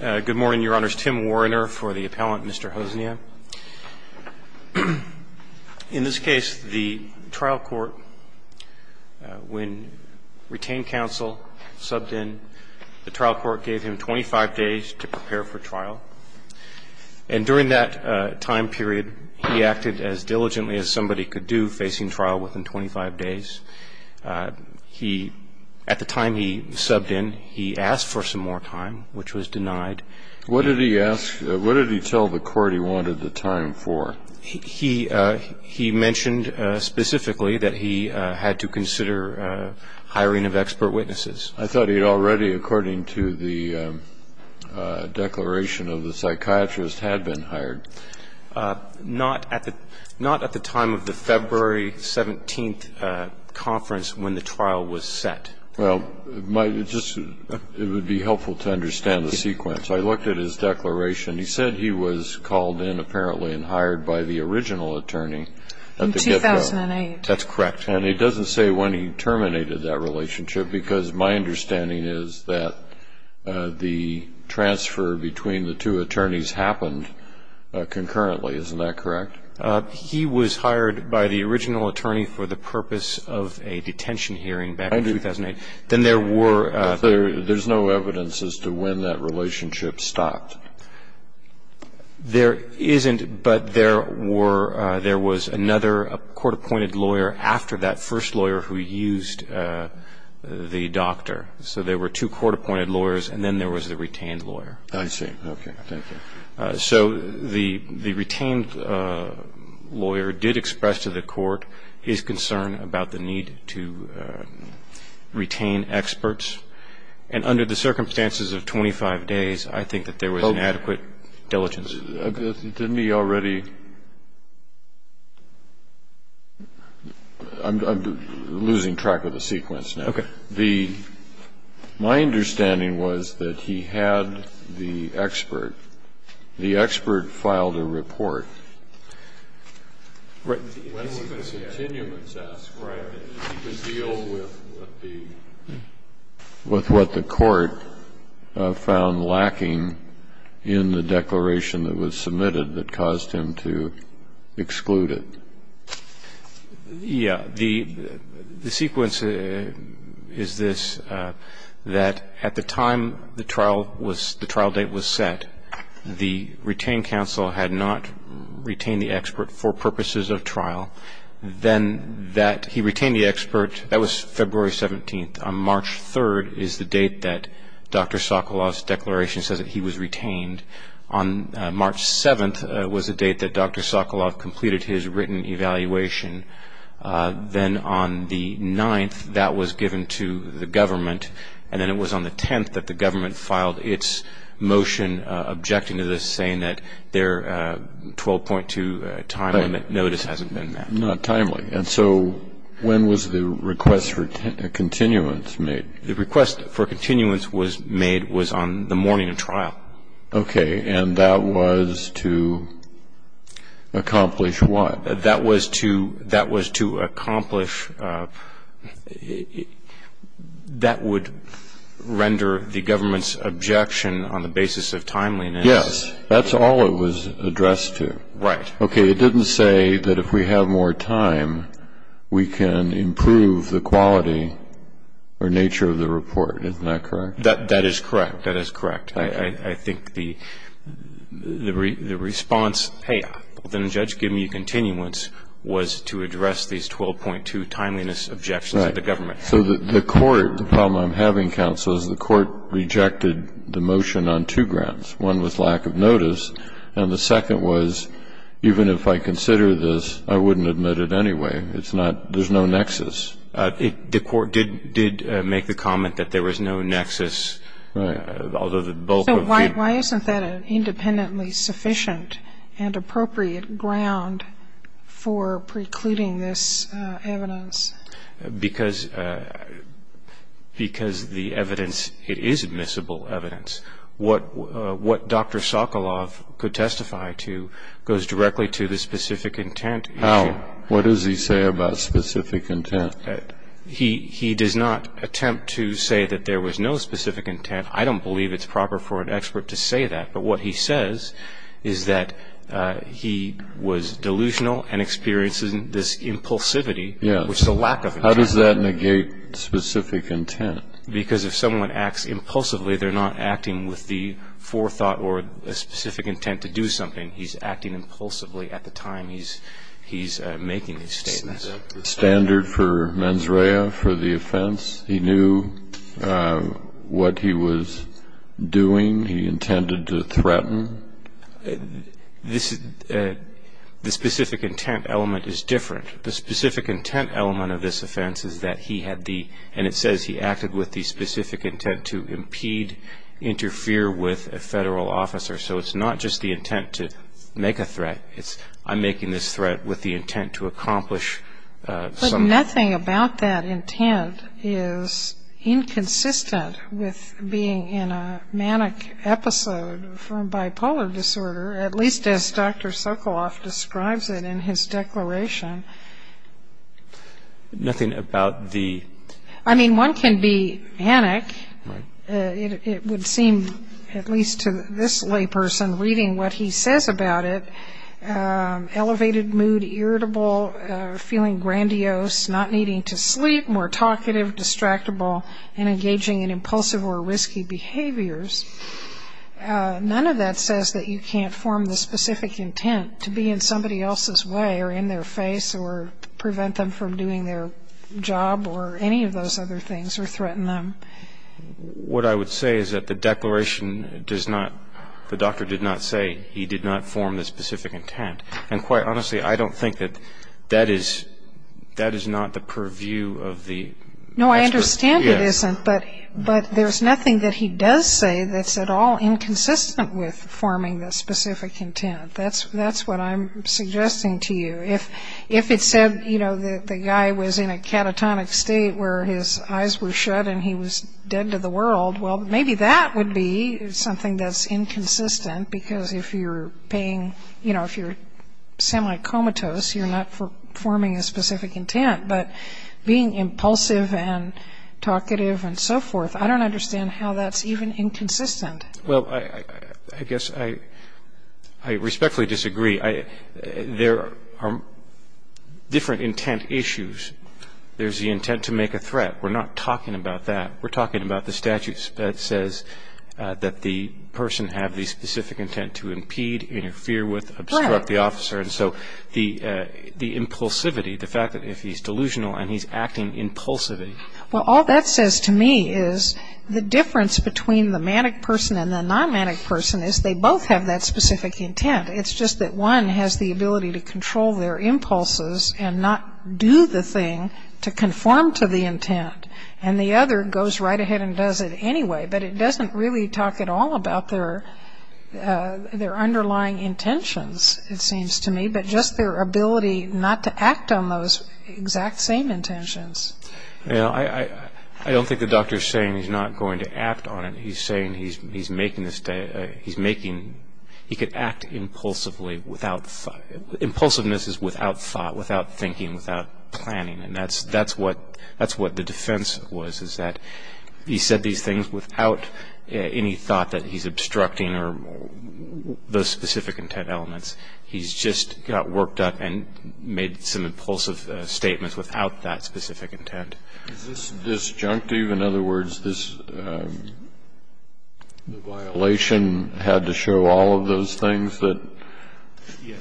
Good morning, Your Honors. Tim Warriner for the appellant, Mr. Hossnieh. In this case, the trial court, when retained counsel subbed in, the trial court gave him 25 days to prepare for trial. And during that time period, he acted as diligently as somebody could do facing trial within 25 days. He, at the time he subbed in, he asked for some more time, which was denied. What did he ask, what did he tell the court he wanted the time for? He mentioned specifically that he had to consider hiring of expert witnesses. I thought he had already, according to the declaration of the psychiatrist, had been hired. Not at the time of the February 17th conference when the trial was set. Well, it would be helpful to understand the sequence. I looked at his declaration. He said he was called in, apparently, and hired by the original attorney. In 2008. That's correct. And it doesn't say when he terminated that relationship, because my understanding is that the transfer between the two attorneys happened concurrently, isn't that correct? He was hired by the original attorney for the purpose of a detention hearing back in 2008. Then there were. There's no evidence as to when that relationship stopped. There isn't, but there were, there was another court-appointed lawyer after that first lawyer who used the doctor. So there were two court-appointed lawyers, and then there was the retained lawyer. I see. Okay. Thank you. So the retained lawyer did express to the court his concern about the need to retain experts. And under the circumstances of 25 days, I think that there was an adequate diligence. Didn't he already? I'm losing track of the sequence now. Okay. My understanding was that he had the expert. The expert filed a report. Right. When would the continuance ask, right, that he could deal with what the court found lacking in the declaration that was submitted that caused him to exclude it? Yeah. The sequence is this, that at the time the trial date was set, the retained counsel had not retained the expert for purposes of trial. Then that he retained the expert, that was February 17th. On March 3rd is the date that Dr. Sokolov's declaration says that he was retained. On March 7th was the date that Dr. Sokolov completed his written evaluation. Then on the 9th, that was given to the government. And then it was on the 10th that the government filed its motion objecting to this, saying that their 12.2 time limit notice hasn't been met. Not timely. And so when was the request for continuance made? The request for continuance was made was on the morning of trial. Okay. And that was to accomplish what? That was to accomplish that would render the government's objection on the basis of timeliness. Yes. That's all it was addressed to. Right. Okay. It didn't say that if we have more time, we can improve the quality or nature of the report. Isn't that correct? That is correct. That is correct. I think the response, hey, didn't the judge give me a continuance, was to address these 12.2 timeliness objections of the government. Right. So the court, the problem I'm having, counsel, is the court rejected the motion on two grounds. One was lack of notice, and the second was even if I consider this, I wouldn't admit it anyway. It's not, there's no nexus. The court did make the comment that there was no nexus. Right. So why isn't that an independently sufficient and appropriate ground for precluding this evidence? Because the evidence, it is admissible evidence. What Dr. Sokoloff could testify to goes directly to the specific intent. How? What does he say about specific intent? He does not attempt to say that there was no specific intent. I don't believe it's proper for an expert to say that. But what he says is that he was delusional and experienced this impulsivity, which is a lack of intent. How does that negate specific intent? Because if someone acts impulsively, they're not acting with the forethought or a specific intent to do something. He's acting impulsively at the time he's making these statements. Standard for mens rea for the offense. He knew what he was doing. He intended to threaten. The specific intent element is different. The specific intent element of this offense is that he had the, and it says he acted with the specific intent to impede, interfere with a Federal officer. So it's not just the intent to make a threat. It's I'm making this threat with the intent to accomplish something. Nothing about that intent is inconsistent with being in a manic episode from bipolar disorder, at least as Dr. Sokoloff describes it in his declaration. Nothing about the... I mean, one can be manic. It would seem, at least to this layperson reading what he says about it, elevated mood, irritable, feeling grandiose, not needing to sleep, more talkative, distractible, and engaging in impulsive or risky behaviors. None of that says that you can't form the specific intent to be in somebody else's way or in their face or prevent them from doing their job or any of those other things or threaten them. What I would say is that the declaration does not, the doctor did not say he did not form the specific intent. And quite honestly, I don't think that that is not the purview of the expert. No, I understand it isn't, but there's nothing that he does say that's at all inconsistent with forming the specific intent. That's what I'm suggesting to you. If it said, you know, the guy was in a catatonic state where his eyes were shut and he was dead to the world, well, maybe that would be something that's inconsistent, because if you're paying, you know, if you're semi-comatose, you're not forming a specific intent. But being impulsive and talkative and so forth, I don't understand how that's even inconsistent. Well, I guess I respectfully disagree. There are different intent issues. There's the intent to make a threat. We're not talking about that. We're talking about the statute that says that the person have the specific intent to impede, interfere with, obstruct the officer. Right. And so the impulsivity, the fact that if he's delusional and he's acting impulsively. Well, all that says to me is the difference between the manic person and the non-manic person is they both have that specific intent. It's just that one has the ability to control their impulses and not do the thing to conform to the intent, and the other goes right ahead and does it anyway, but it doesn't really talk at all about their underlying intentions, it seems to me, but just their ability not to act on those exact same intentions. You know, I don't think the doctor is saying he's not going to act on it. He's saying he's making this, he's making, he could act impulsively without, impulsiveness is without thought, without thinking, without planning, and that's what the defense was is that he said these things without any thought that he's obstructing or those specific intent elements. He's just got worked up and made some impulsive statements without that specific intent. Is this disjunctive? In other words, this violation had to show all of those things that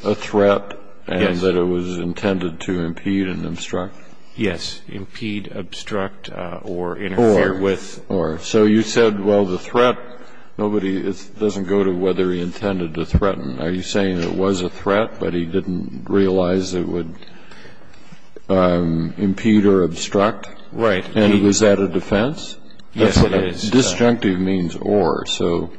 a threat and that it was intended to impede and obstruct? Yes, impede, obstruct, or interfere with. Or, or. So you said, well, the threat, nobody, it doesn't go to whether he intended to threaten. Are you saying it was a threat, but he didn't realize it would impede or obstruct? Right. And was that a defense? Yes, it is. Disjunctive means or, so.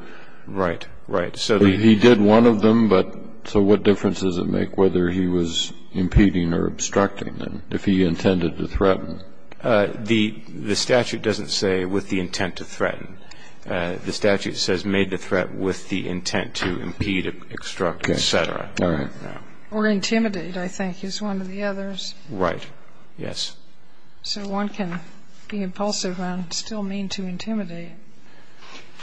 Right, right. He did one of them, but so what difference does it make whether he was impeding or obstructing? If he intended to threaten. The statute doesn't say with the intent to threaten. The statute says made the threat with the intent to impede, obstruct, et cetera. All right. Or intimidate, I think, is one of the others. Right. Yes. So one can be impulsive and still mean to intimidate.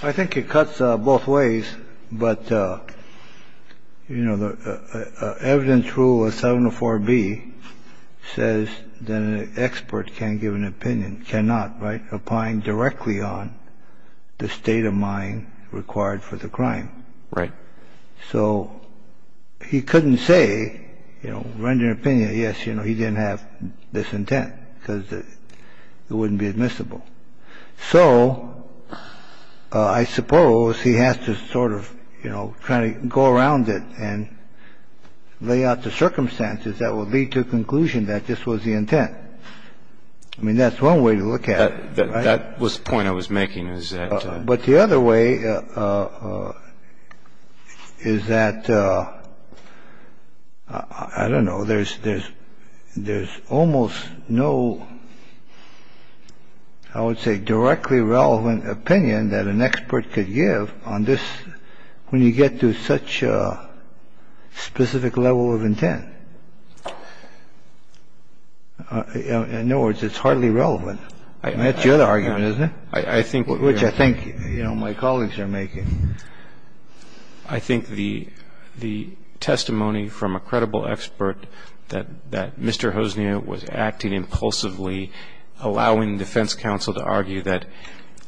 I think it cuts both ways. But, you know, the evidence rule of 704B says that an expert can't give an opinion. Cannot, right? Applying directly on the state of mind required for the crime. Right. So he couldn't say, you know, render an opinion, yes, you know, he didn't have this intent because it wouldn't be admissible. So I suppose he has to sort of, you know, try to go around it and lay out the circumstances that would lead to a conclusion that this was the intent. I mean, that's one way to look at it. That was the point I was making is that. But the other way is that, I don't know, there's there's there's almost no, I would say, directly relevant opinion that an expert could give on this when you get to such a specific level of intent. In other words, it's hardly relevant. And that's the other argument, isn't it? I think. Which I think, you know, my colleagues are making. I think the testimony from a credible expert that Mr. Hosnia was acting impulsively, allowing defense counsel to argue that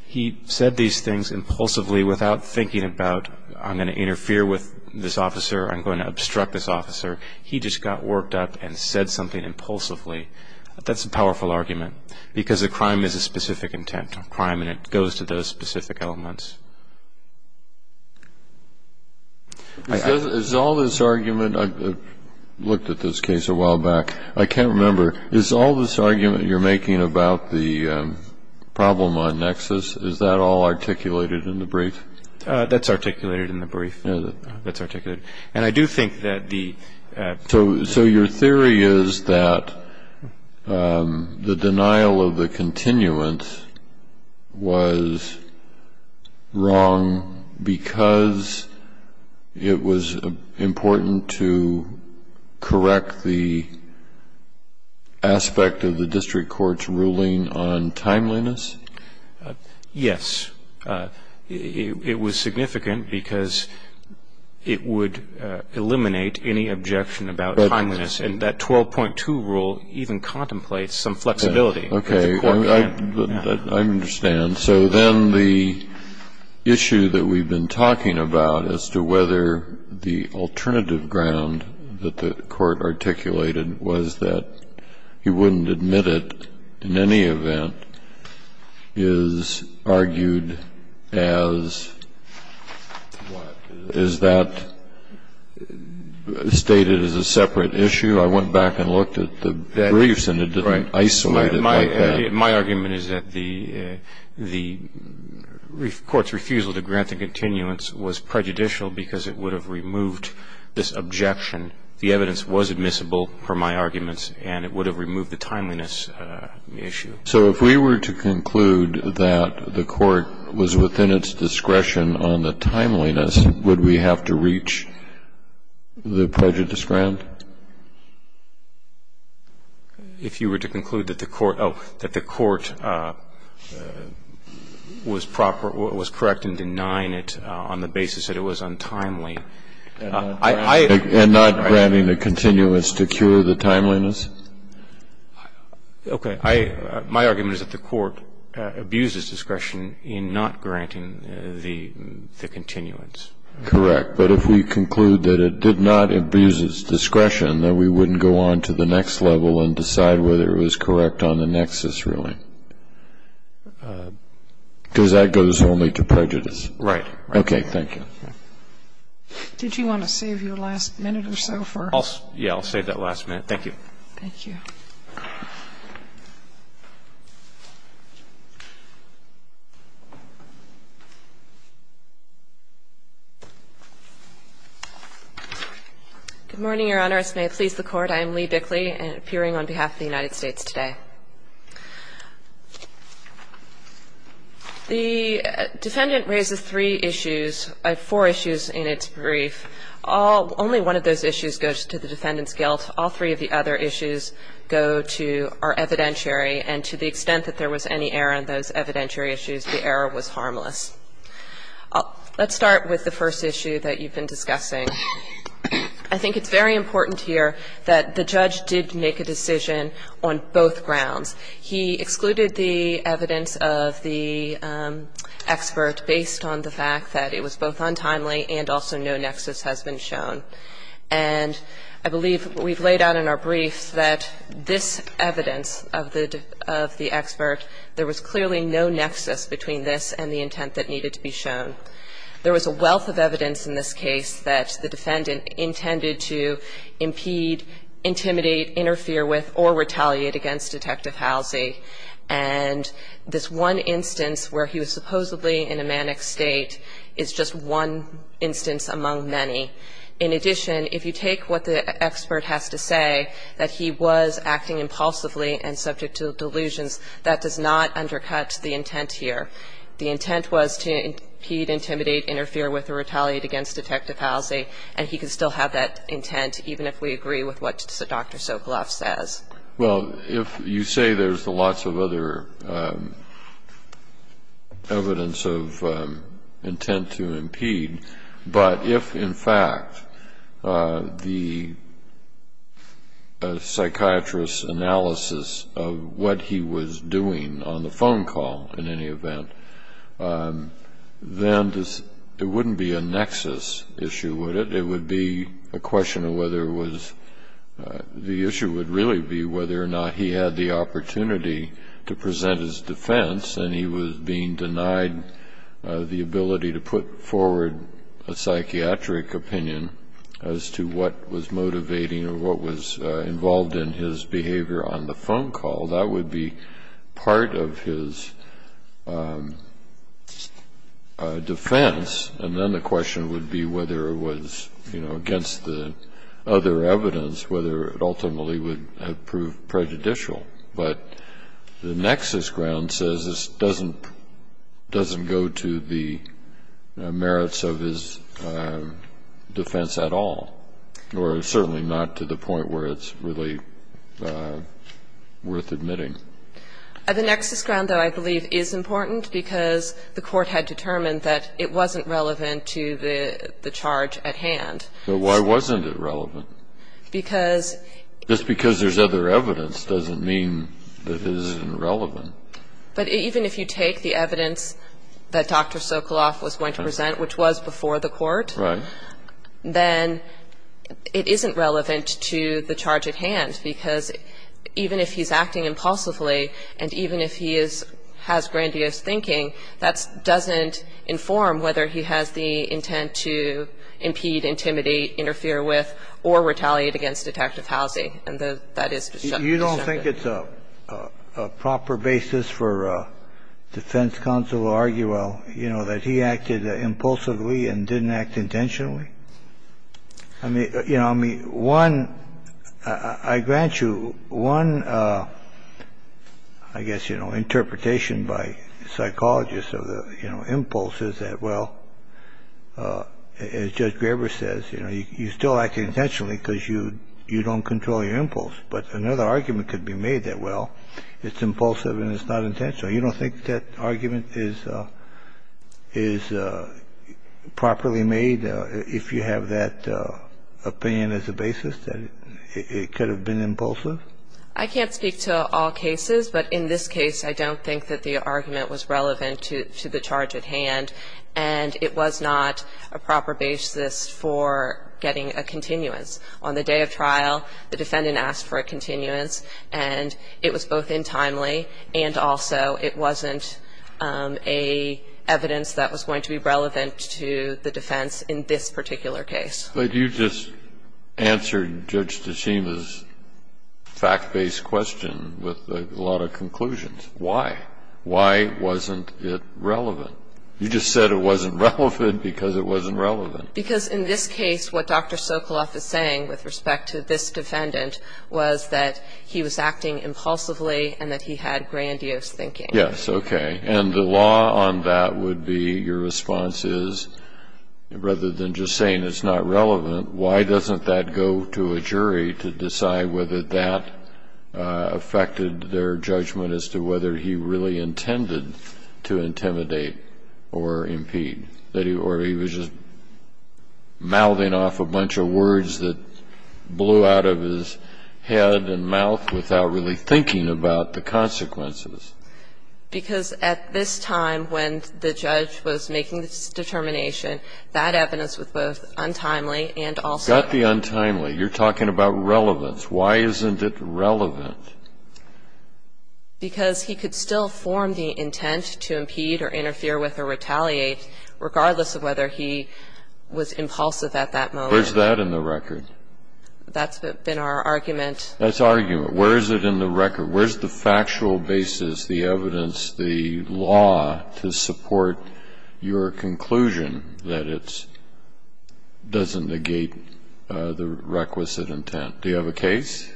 he said these things impulsively without thinking about, I'm going to interfere with this officer, I'm going to obstruct this officer. He just got worked up and said something impulsively. That's a powerful argument. Because a crime is a specific intent of crime and it goes to those specific elements. Is all this argument, I looked at this case a while back, I can't remember. Is all this argument you're making about the problem on nexus, is that all articulated in the brief? That's articulated in the brief. That's articulated. And I do think that the. So your theory is that the denial of the continuance was wrong because it was important to correct the aspect of the district court's ruling on timeliness? Yes. It was significant because it would eliminate any objection about timeliness. And that 12.2 rule even contemplates some flexibility. Okay. I understand. So then the issue that we've been talking about as to whether the alternative ground that the court articulated was that he wouldn't admit it in any event is argued as what? Is that stated as a separate issue? I went back and looked at the briefs and it didn't isolate it like that. My argument is that the court's refusal to grant the continuance was prejudicial because it would have removed this objection. The evidence was admissible, per my arguments, and it would have removed the timeliness issue. So if we were to conclude that the court was within its discretion on the timeliness, would we have to reach the prejudice ground? If you were to conclude that the court was correct in denying it on the basis that it was untimely, and not granting the continuance to cure the timeliness? Okay. My argument is that the court abuses discretion in not granting the continuance. Correct. But if we conclude that it did not abuse its discretion, then we wouldn't go on to the next level and decide whether it was correct on the nexus, really. Because that goes only to prejudice. Right. Thank you. Did you want to save your last minute or so for? Yeah, I'll save that last minute. Thank you. Thank you. Good morning, Your Honors. May it please the Court. I am Lee Bickley, appearing on behalf of the United States today. The defendant raises three issues, four issues in its brief. Only one of those issues goes to the defendant's guilt. All three of the other issues go to our evidentiary. And to the extent that there was any error in those evidentiary issues, the error was harmless. Let's start with the first issue that you've been discussing. I think it's very important here that the judge did make a decision on both grounds. He excluded the evidence of the expert based on the fact that it was both untimely and also no nexus has been shown. And I believe we've laid out in our briefs that this evidence of the expert, there was clearly no nexus between this and the intent that needed to be shown. There was a wealth of evidence in this case that the defendant intended to impede, intimidate, interfere with, or retaliate against Detective Halsey. And this one instance where he was supposedly in a manic state is just one instance among many. In addition, if you take what the expert has to say, that he was acting impulsively and subject to delusions, that does not undercut the intent here. The intent was to impede, intimidate, interfere with, or retaliate against Detective Halsey, and he could still have that intent even if we agree with what Dr. Sokoloff says. Well, if you say there's lots of other evidence of intent to impede, but if, in fact, the psychiatrist's analysis of what he was doing on the phone call, in any event, then it wouldn't be a nexus issue, would it? It would be a question of whether it was the issue would really be whether or not he had the opportunity to present his defense, and he was being denied the ability to put forward a psychiatric opinion as to what was motivating or what was involved in his behavior on the phone call. That would be part of his defense, and then the question would be whether it was, you know, against the other evidence, whether it ultimately would have proved prejudicial. But the nexus ground says this doesn't go to the merits of his defense at all, or the court has determined that it wasn't relevant to the charge at hand. But why wasn't it relevant? Because — Just because there's other evidence doesn't mean that it isn't relevant. But even if you take the evidence that Dr. Sokoloff was going to present, which was before the court, then it isn't relevant to the charge at hand, because even if he's acting impulsively and even if he is — has grandiose thinking, that doesn't inform whether he has the intent to impede, intimidate, interfere with, or retaliate against Detective Housey, and the — that is disjuncted. You don't think it's a proper basis for defense counsel to argue, well, you know, that he acted impulsively and didn't act intentionally? I mean, you know, I mean, one — I grant you one, I guess, you know, interpretation by psychologists of the, you know, impulse is that, well, as Judge Graber says, you know, you still act intentionally because you don't control your impulse. But another argument could be made that, well, it's impulsive and it's not intentional. So you don't think that argument is properly made if you have that opinion as a basis, that it could have been impulsive? I can't speak to all cases, but in this case, I don't think that the argument was relevant to the charge at hand, and it was not a proper basis for getting a continuance. On the day of trial, the defendant asked for a continuance, and it was both untimely and also it wasn't a evidence that was going to be relevant to the defense in this particular case. But you just answered Judge DeCima's fact-based question with a lot of conclusions. Why? Why wasn't it relevant? You just said it wasn't relevant because it wasn't relevant. Because in this case, what Dr. Sokoloff is saying with respect to this defendant was that he was acting impulsively and that he had grandiose thinking. Yes, okay. And the law on that would be your response is, rather than just saying it's not relevant, why doesn't that go to a jury to decide whether that affected their judgment as to whether he really intended to intimidate or impede, or he was just mouthing off a bunch of words that blew out of his head and mouth without really thinking about the consequences? Because at this time when the judge was making this determination, that evidence was both untimely and also not relevant. You got the untimely. You're talking about relevance. Why isn't it relevant? Because he could still form the intent to impede or interfere with or retaliate regardless of whether he was impulsive at that moment. Where's that in the record? That's been our argument. That's argument. Where is it in the record? Where's the factual basis, the evidence, the law to support your conclusion that it doesn't negate the requisite intent? Do you have a case?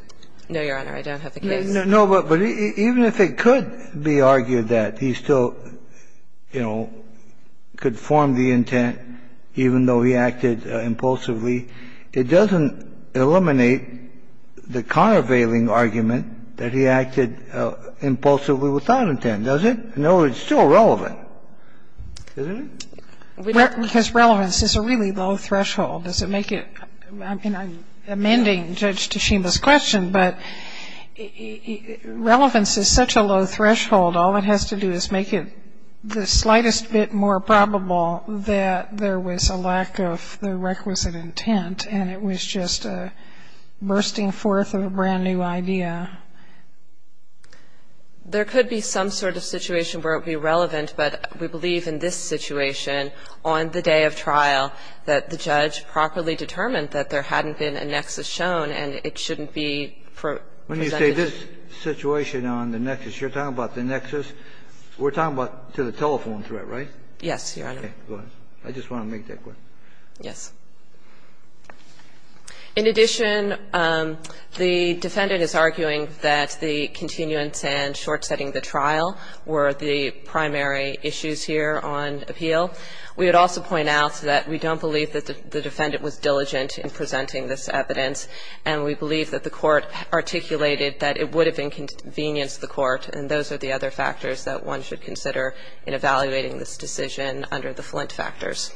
No, Your Honor. I don't have a case. No, but even if it could be argued that he still, you know, could form the intent even though he acted impulsively, it doesn't eliminate the countervailing argument that he acted impulsively without intent, does it? No, it's still relevant, isn't it? Because relevance is a really low threshold. Does it make it? I'm amending Judge Tashima's question, but relevance is such a low threshold, all it has to do is make it the slightest bit more probable that there was a lack of the requisite intent and it was just a bursting forth of a brand-new idea. There could be some sort of situation where it would be relevant, but we believe in this situation on the day of trial that the judge properly determined that there hadn't been a nexus shown and it shouldn't be presented as a nexus. When you say this situation on the nexus, you're talking about the nexus. We're talking about to the telephone threat, right? Yes, Your Honor. Okay. Go ahead. I just want to make that question. Yes. In addition, the defendant is arguing that the continuance and short-setting the trial were the primary issues here on appeal. We would also point out that we don't believe that the defendant was diligent in presenting this evidence and we believe that the court articulated that it would have inconvenienced the court and those are the other factors that one should consider in evaluating this decision under the Flint factors.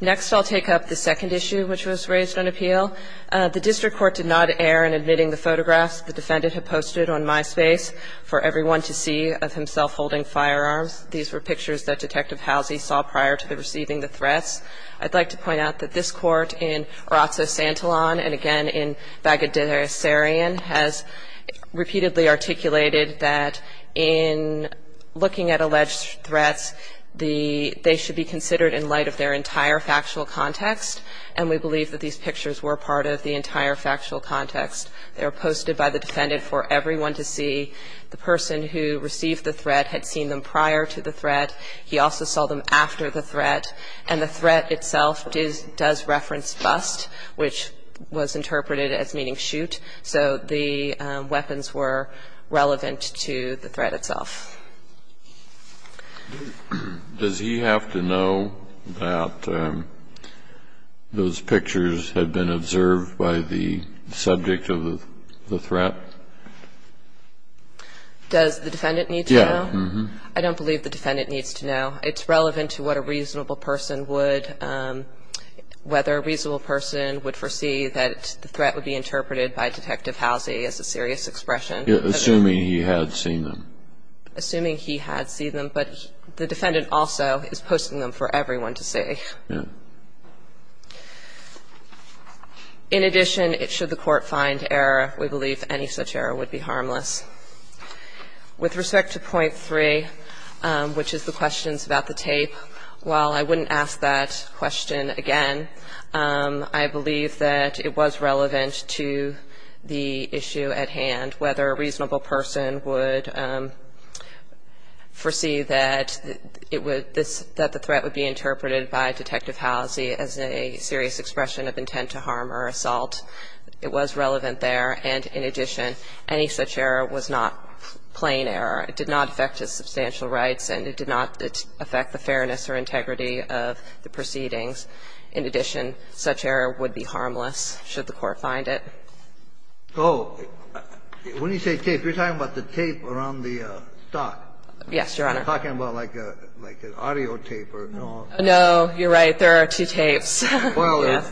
Next, I'll take up the second issue which was raised on appeal. The district court did not err in admitting the photographs the defendant had posted on MySpace for everyone to see of himself holding firearms. These were pictures that Detective Halsey saw prior to receiving the threats. I'd like to point out that this court in Orazco-Santillon and again in Bagadir Sarian has repeatedly articulated that in looking at alleged threats, the they should be considered in light of their entire factual context and we believe that these pictures were part of the entire factual context. They were posted by the defendant for everyone to see. The person who received the threat had seen them prior to the threat. He also saw them after the threat. And the threat itself does reference bust, which was interpreted as meaning shoot. So the weapons were relevant to the threat itself. Does he have to know that those pictures had been observed by the subject of the threat? Does the defendant need to know? Yes. I don't believe the defendant needs to know. It's relevant to what a reasonable person would, whether a reasonable person would foresee that the threat would be interpreted by Detective Halsey as a serious expression. Assuming he had seen them. Assuming he had seen them. But the defendant also is posting them for everyone to see. In addition, should the court find error, we believe any such error would be harmless. With respect to point 3, which is the questions about the tape, while I wouldn't ask that question again, I believe that it was relevant to the issue at hand, whether a reasonable person would foresee that it would, that the threat would be interpreted by Detective Halsey as a serious expression of intent to harm or assault. It was relevant there. And in addition, any such error was not plain error. It did not affect his substantial rights, and it did not affect the fairness or integrity of the proceedings. In addition, such error would be harmless should the court find it. So when you say tape, you're talking about the tape around the stock. Yes, Your Honor. You're talking about, like, an audio tape or no audio tape. No, you're right. There are two tapes. Well,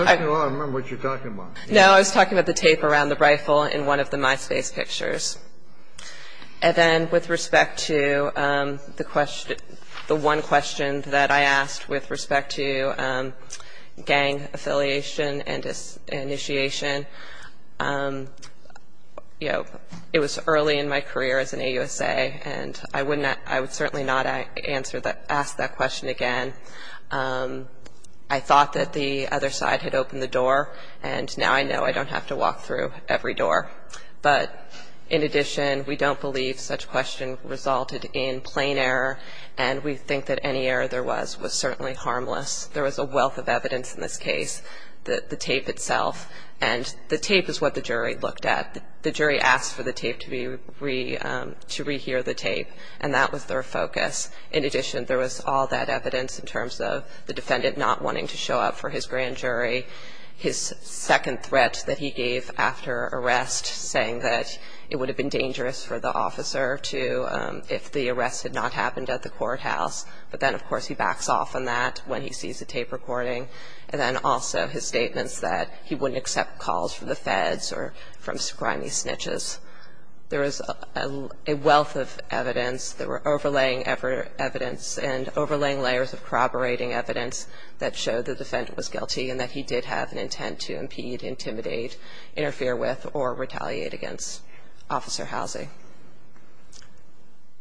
I don't remember what you're talking about. No, I was talking about the tape around the rifle in one of the MySpace pictures. And then with respect to the one question that I asked with respect to gang affiliation and initiation, you know, it was early in my career as an AUSA, and I would certainly not ask that question again. I thought that the other side had opened the door, and now I know I don't have to walk through every door. But in addition, we don't believe such question resulted in plain error, and we think that any error there was was certainly harmless. There was a wealth of evidence in this case, the tape itself. And the tape is what the jury looked at. The jury asked for the tape to be re- to re-hear the tape, and that was their focus. In addition, there was all that evidence in terms of the defendant not wanting to show up for his grand jury, his second threat that he gave after arrest, saying that it would have been dangerous for the officer to, if the arrest had not happened at the courthouse. But then, of course, he backs off on that when he sees the tape recording, and then also his statements that he wouldn't accept calls from the feds or from scrimy snitches. There was a wealth of evidence. There were overlaying evidence and overlaying layers of corroborating evidence that showed the defendant was guilty and that he did have an intent to impede, intimidate, interfere with, or retaliate against Officer Housie.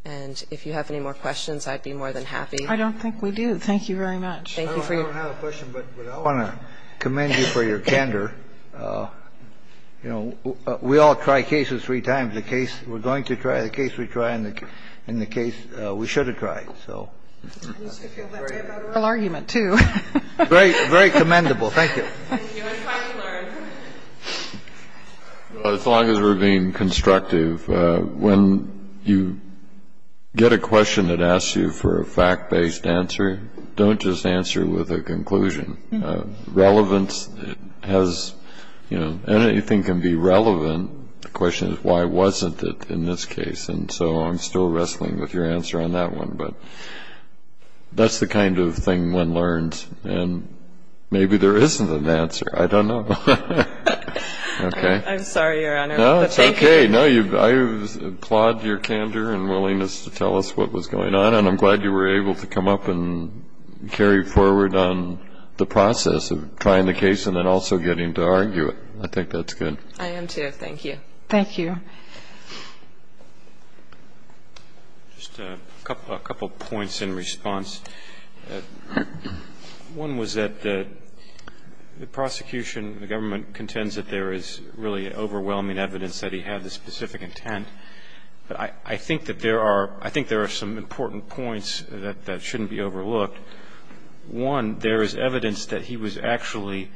And if you have any more questions, I'd be more than happy. I don't think we do. Thank you very much. Thank you for your question. I don't have a question, but I want to commend you for your candor. You know, we all try cases three times. The case we're going to try, the case we try, and the case we should have tried. So. I used to feel that way about arrest. A real argument, too. Very commendable. Thank you. Thank you. It's hard to learn. As long as we're being constructive. When you get a question that asks you for a fact-based answer, don't just answer with a conclusion. Relevance has, you know, anything can be relevant. The question is, why wasn't it in this case? And so I'm still wrestling with your answer on that one. But that's the kind of thing one learns. And maybe there isn't an answer. I don't know. Okay. I'm sorry, Your Honor. No, it's okay. I applaud your candor and willingness to tell us what was going on, and I'm glad you were able to come up and carry forward on the process of trying the case and then also getting to argue it. I think that's good. I am, too. Thank you. Thank you. Just a couple points in response. One was that the prosecution, the government, contends that there is really overwhelming evidence that he had this specific intent. But I think that there are some important points that shouldn't be overlooked. One, there is evidence that he was actually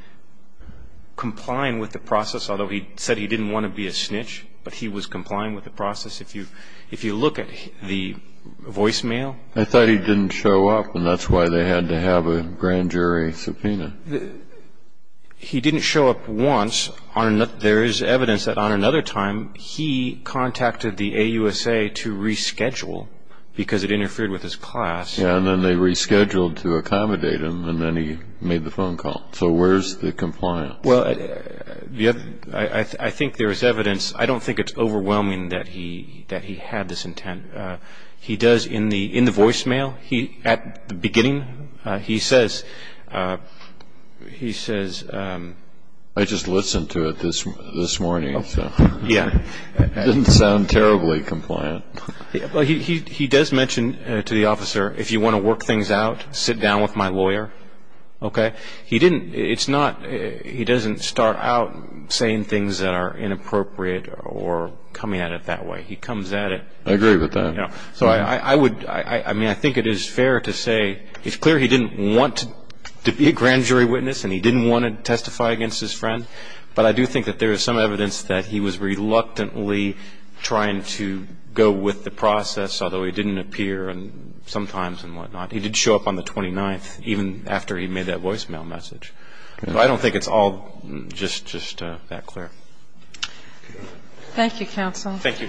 complying with the process, although he said he didn't want to be a snitch, but he was complying with the process. If you look at the voicemail. I thought he didn't show up, and that's why they had to have a grand jury subpoena. He didn't show up once. There is evidence that on another time he contacted the AUSA to reschedule because it interfered with his class. And then they rescheduled to accommodate him, and then he made the phone call. So where's the compliance? I think there is evidence. I don't think it's overwhelming that he had this intent. He does, in the voicemail, at the beginning, he says... I just listened to it this morning. It didn't sound terribly compliant. He does mention to the officer, if you want to work things out, sit down with my lawyer. He doesn't start out saying things that are inappropriate or coming at it that way. He comes at it. I agree with that. So I would... I mean, I think it is fair to say it's clear he didn't want to be a grand jury witness and he didn't want to testify against his friend, but I do think that there is some evidence that he was reluctantly trying to go with the process, although he didn't appear sometimes and whatnot. He did show up on the 29th, even after he made that voicemail message. So I don't think it's all just that clear. Thank you, counsel. Thank you.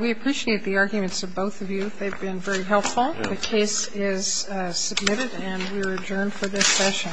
We appreciate the arguments of both of you. They've been very helpful. The case is submitted and we're adjourned for this session. All rise.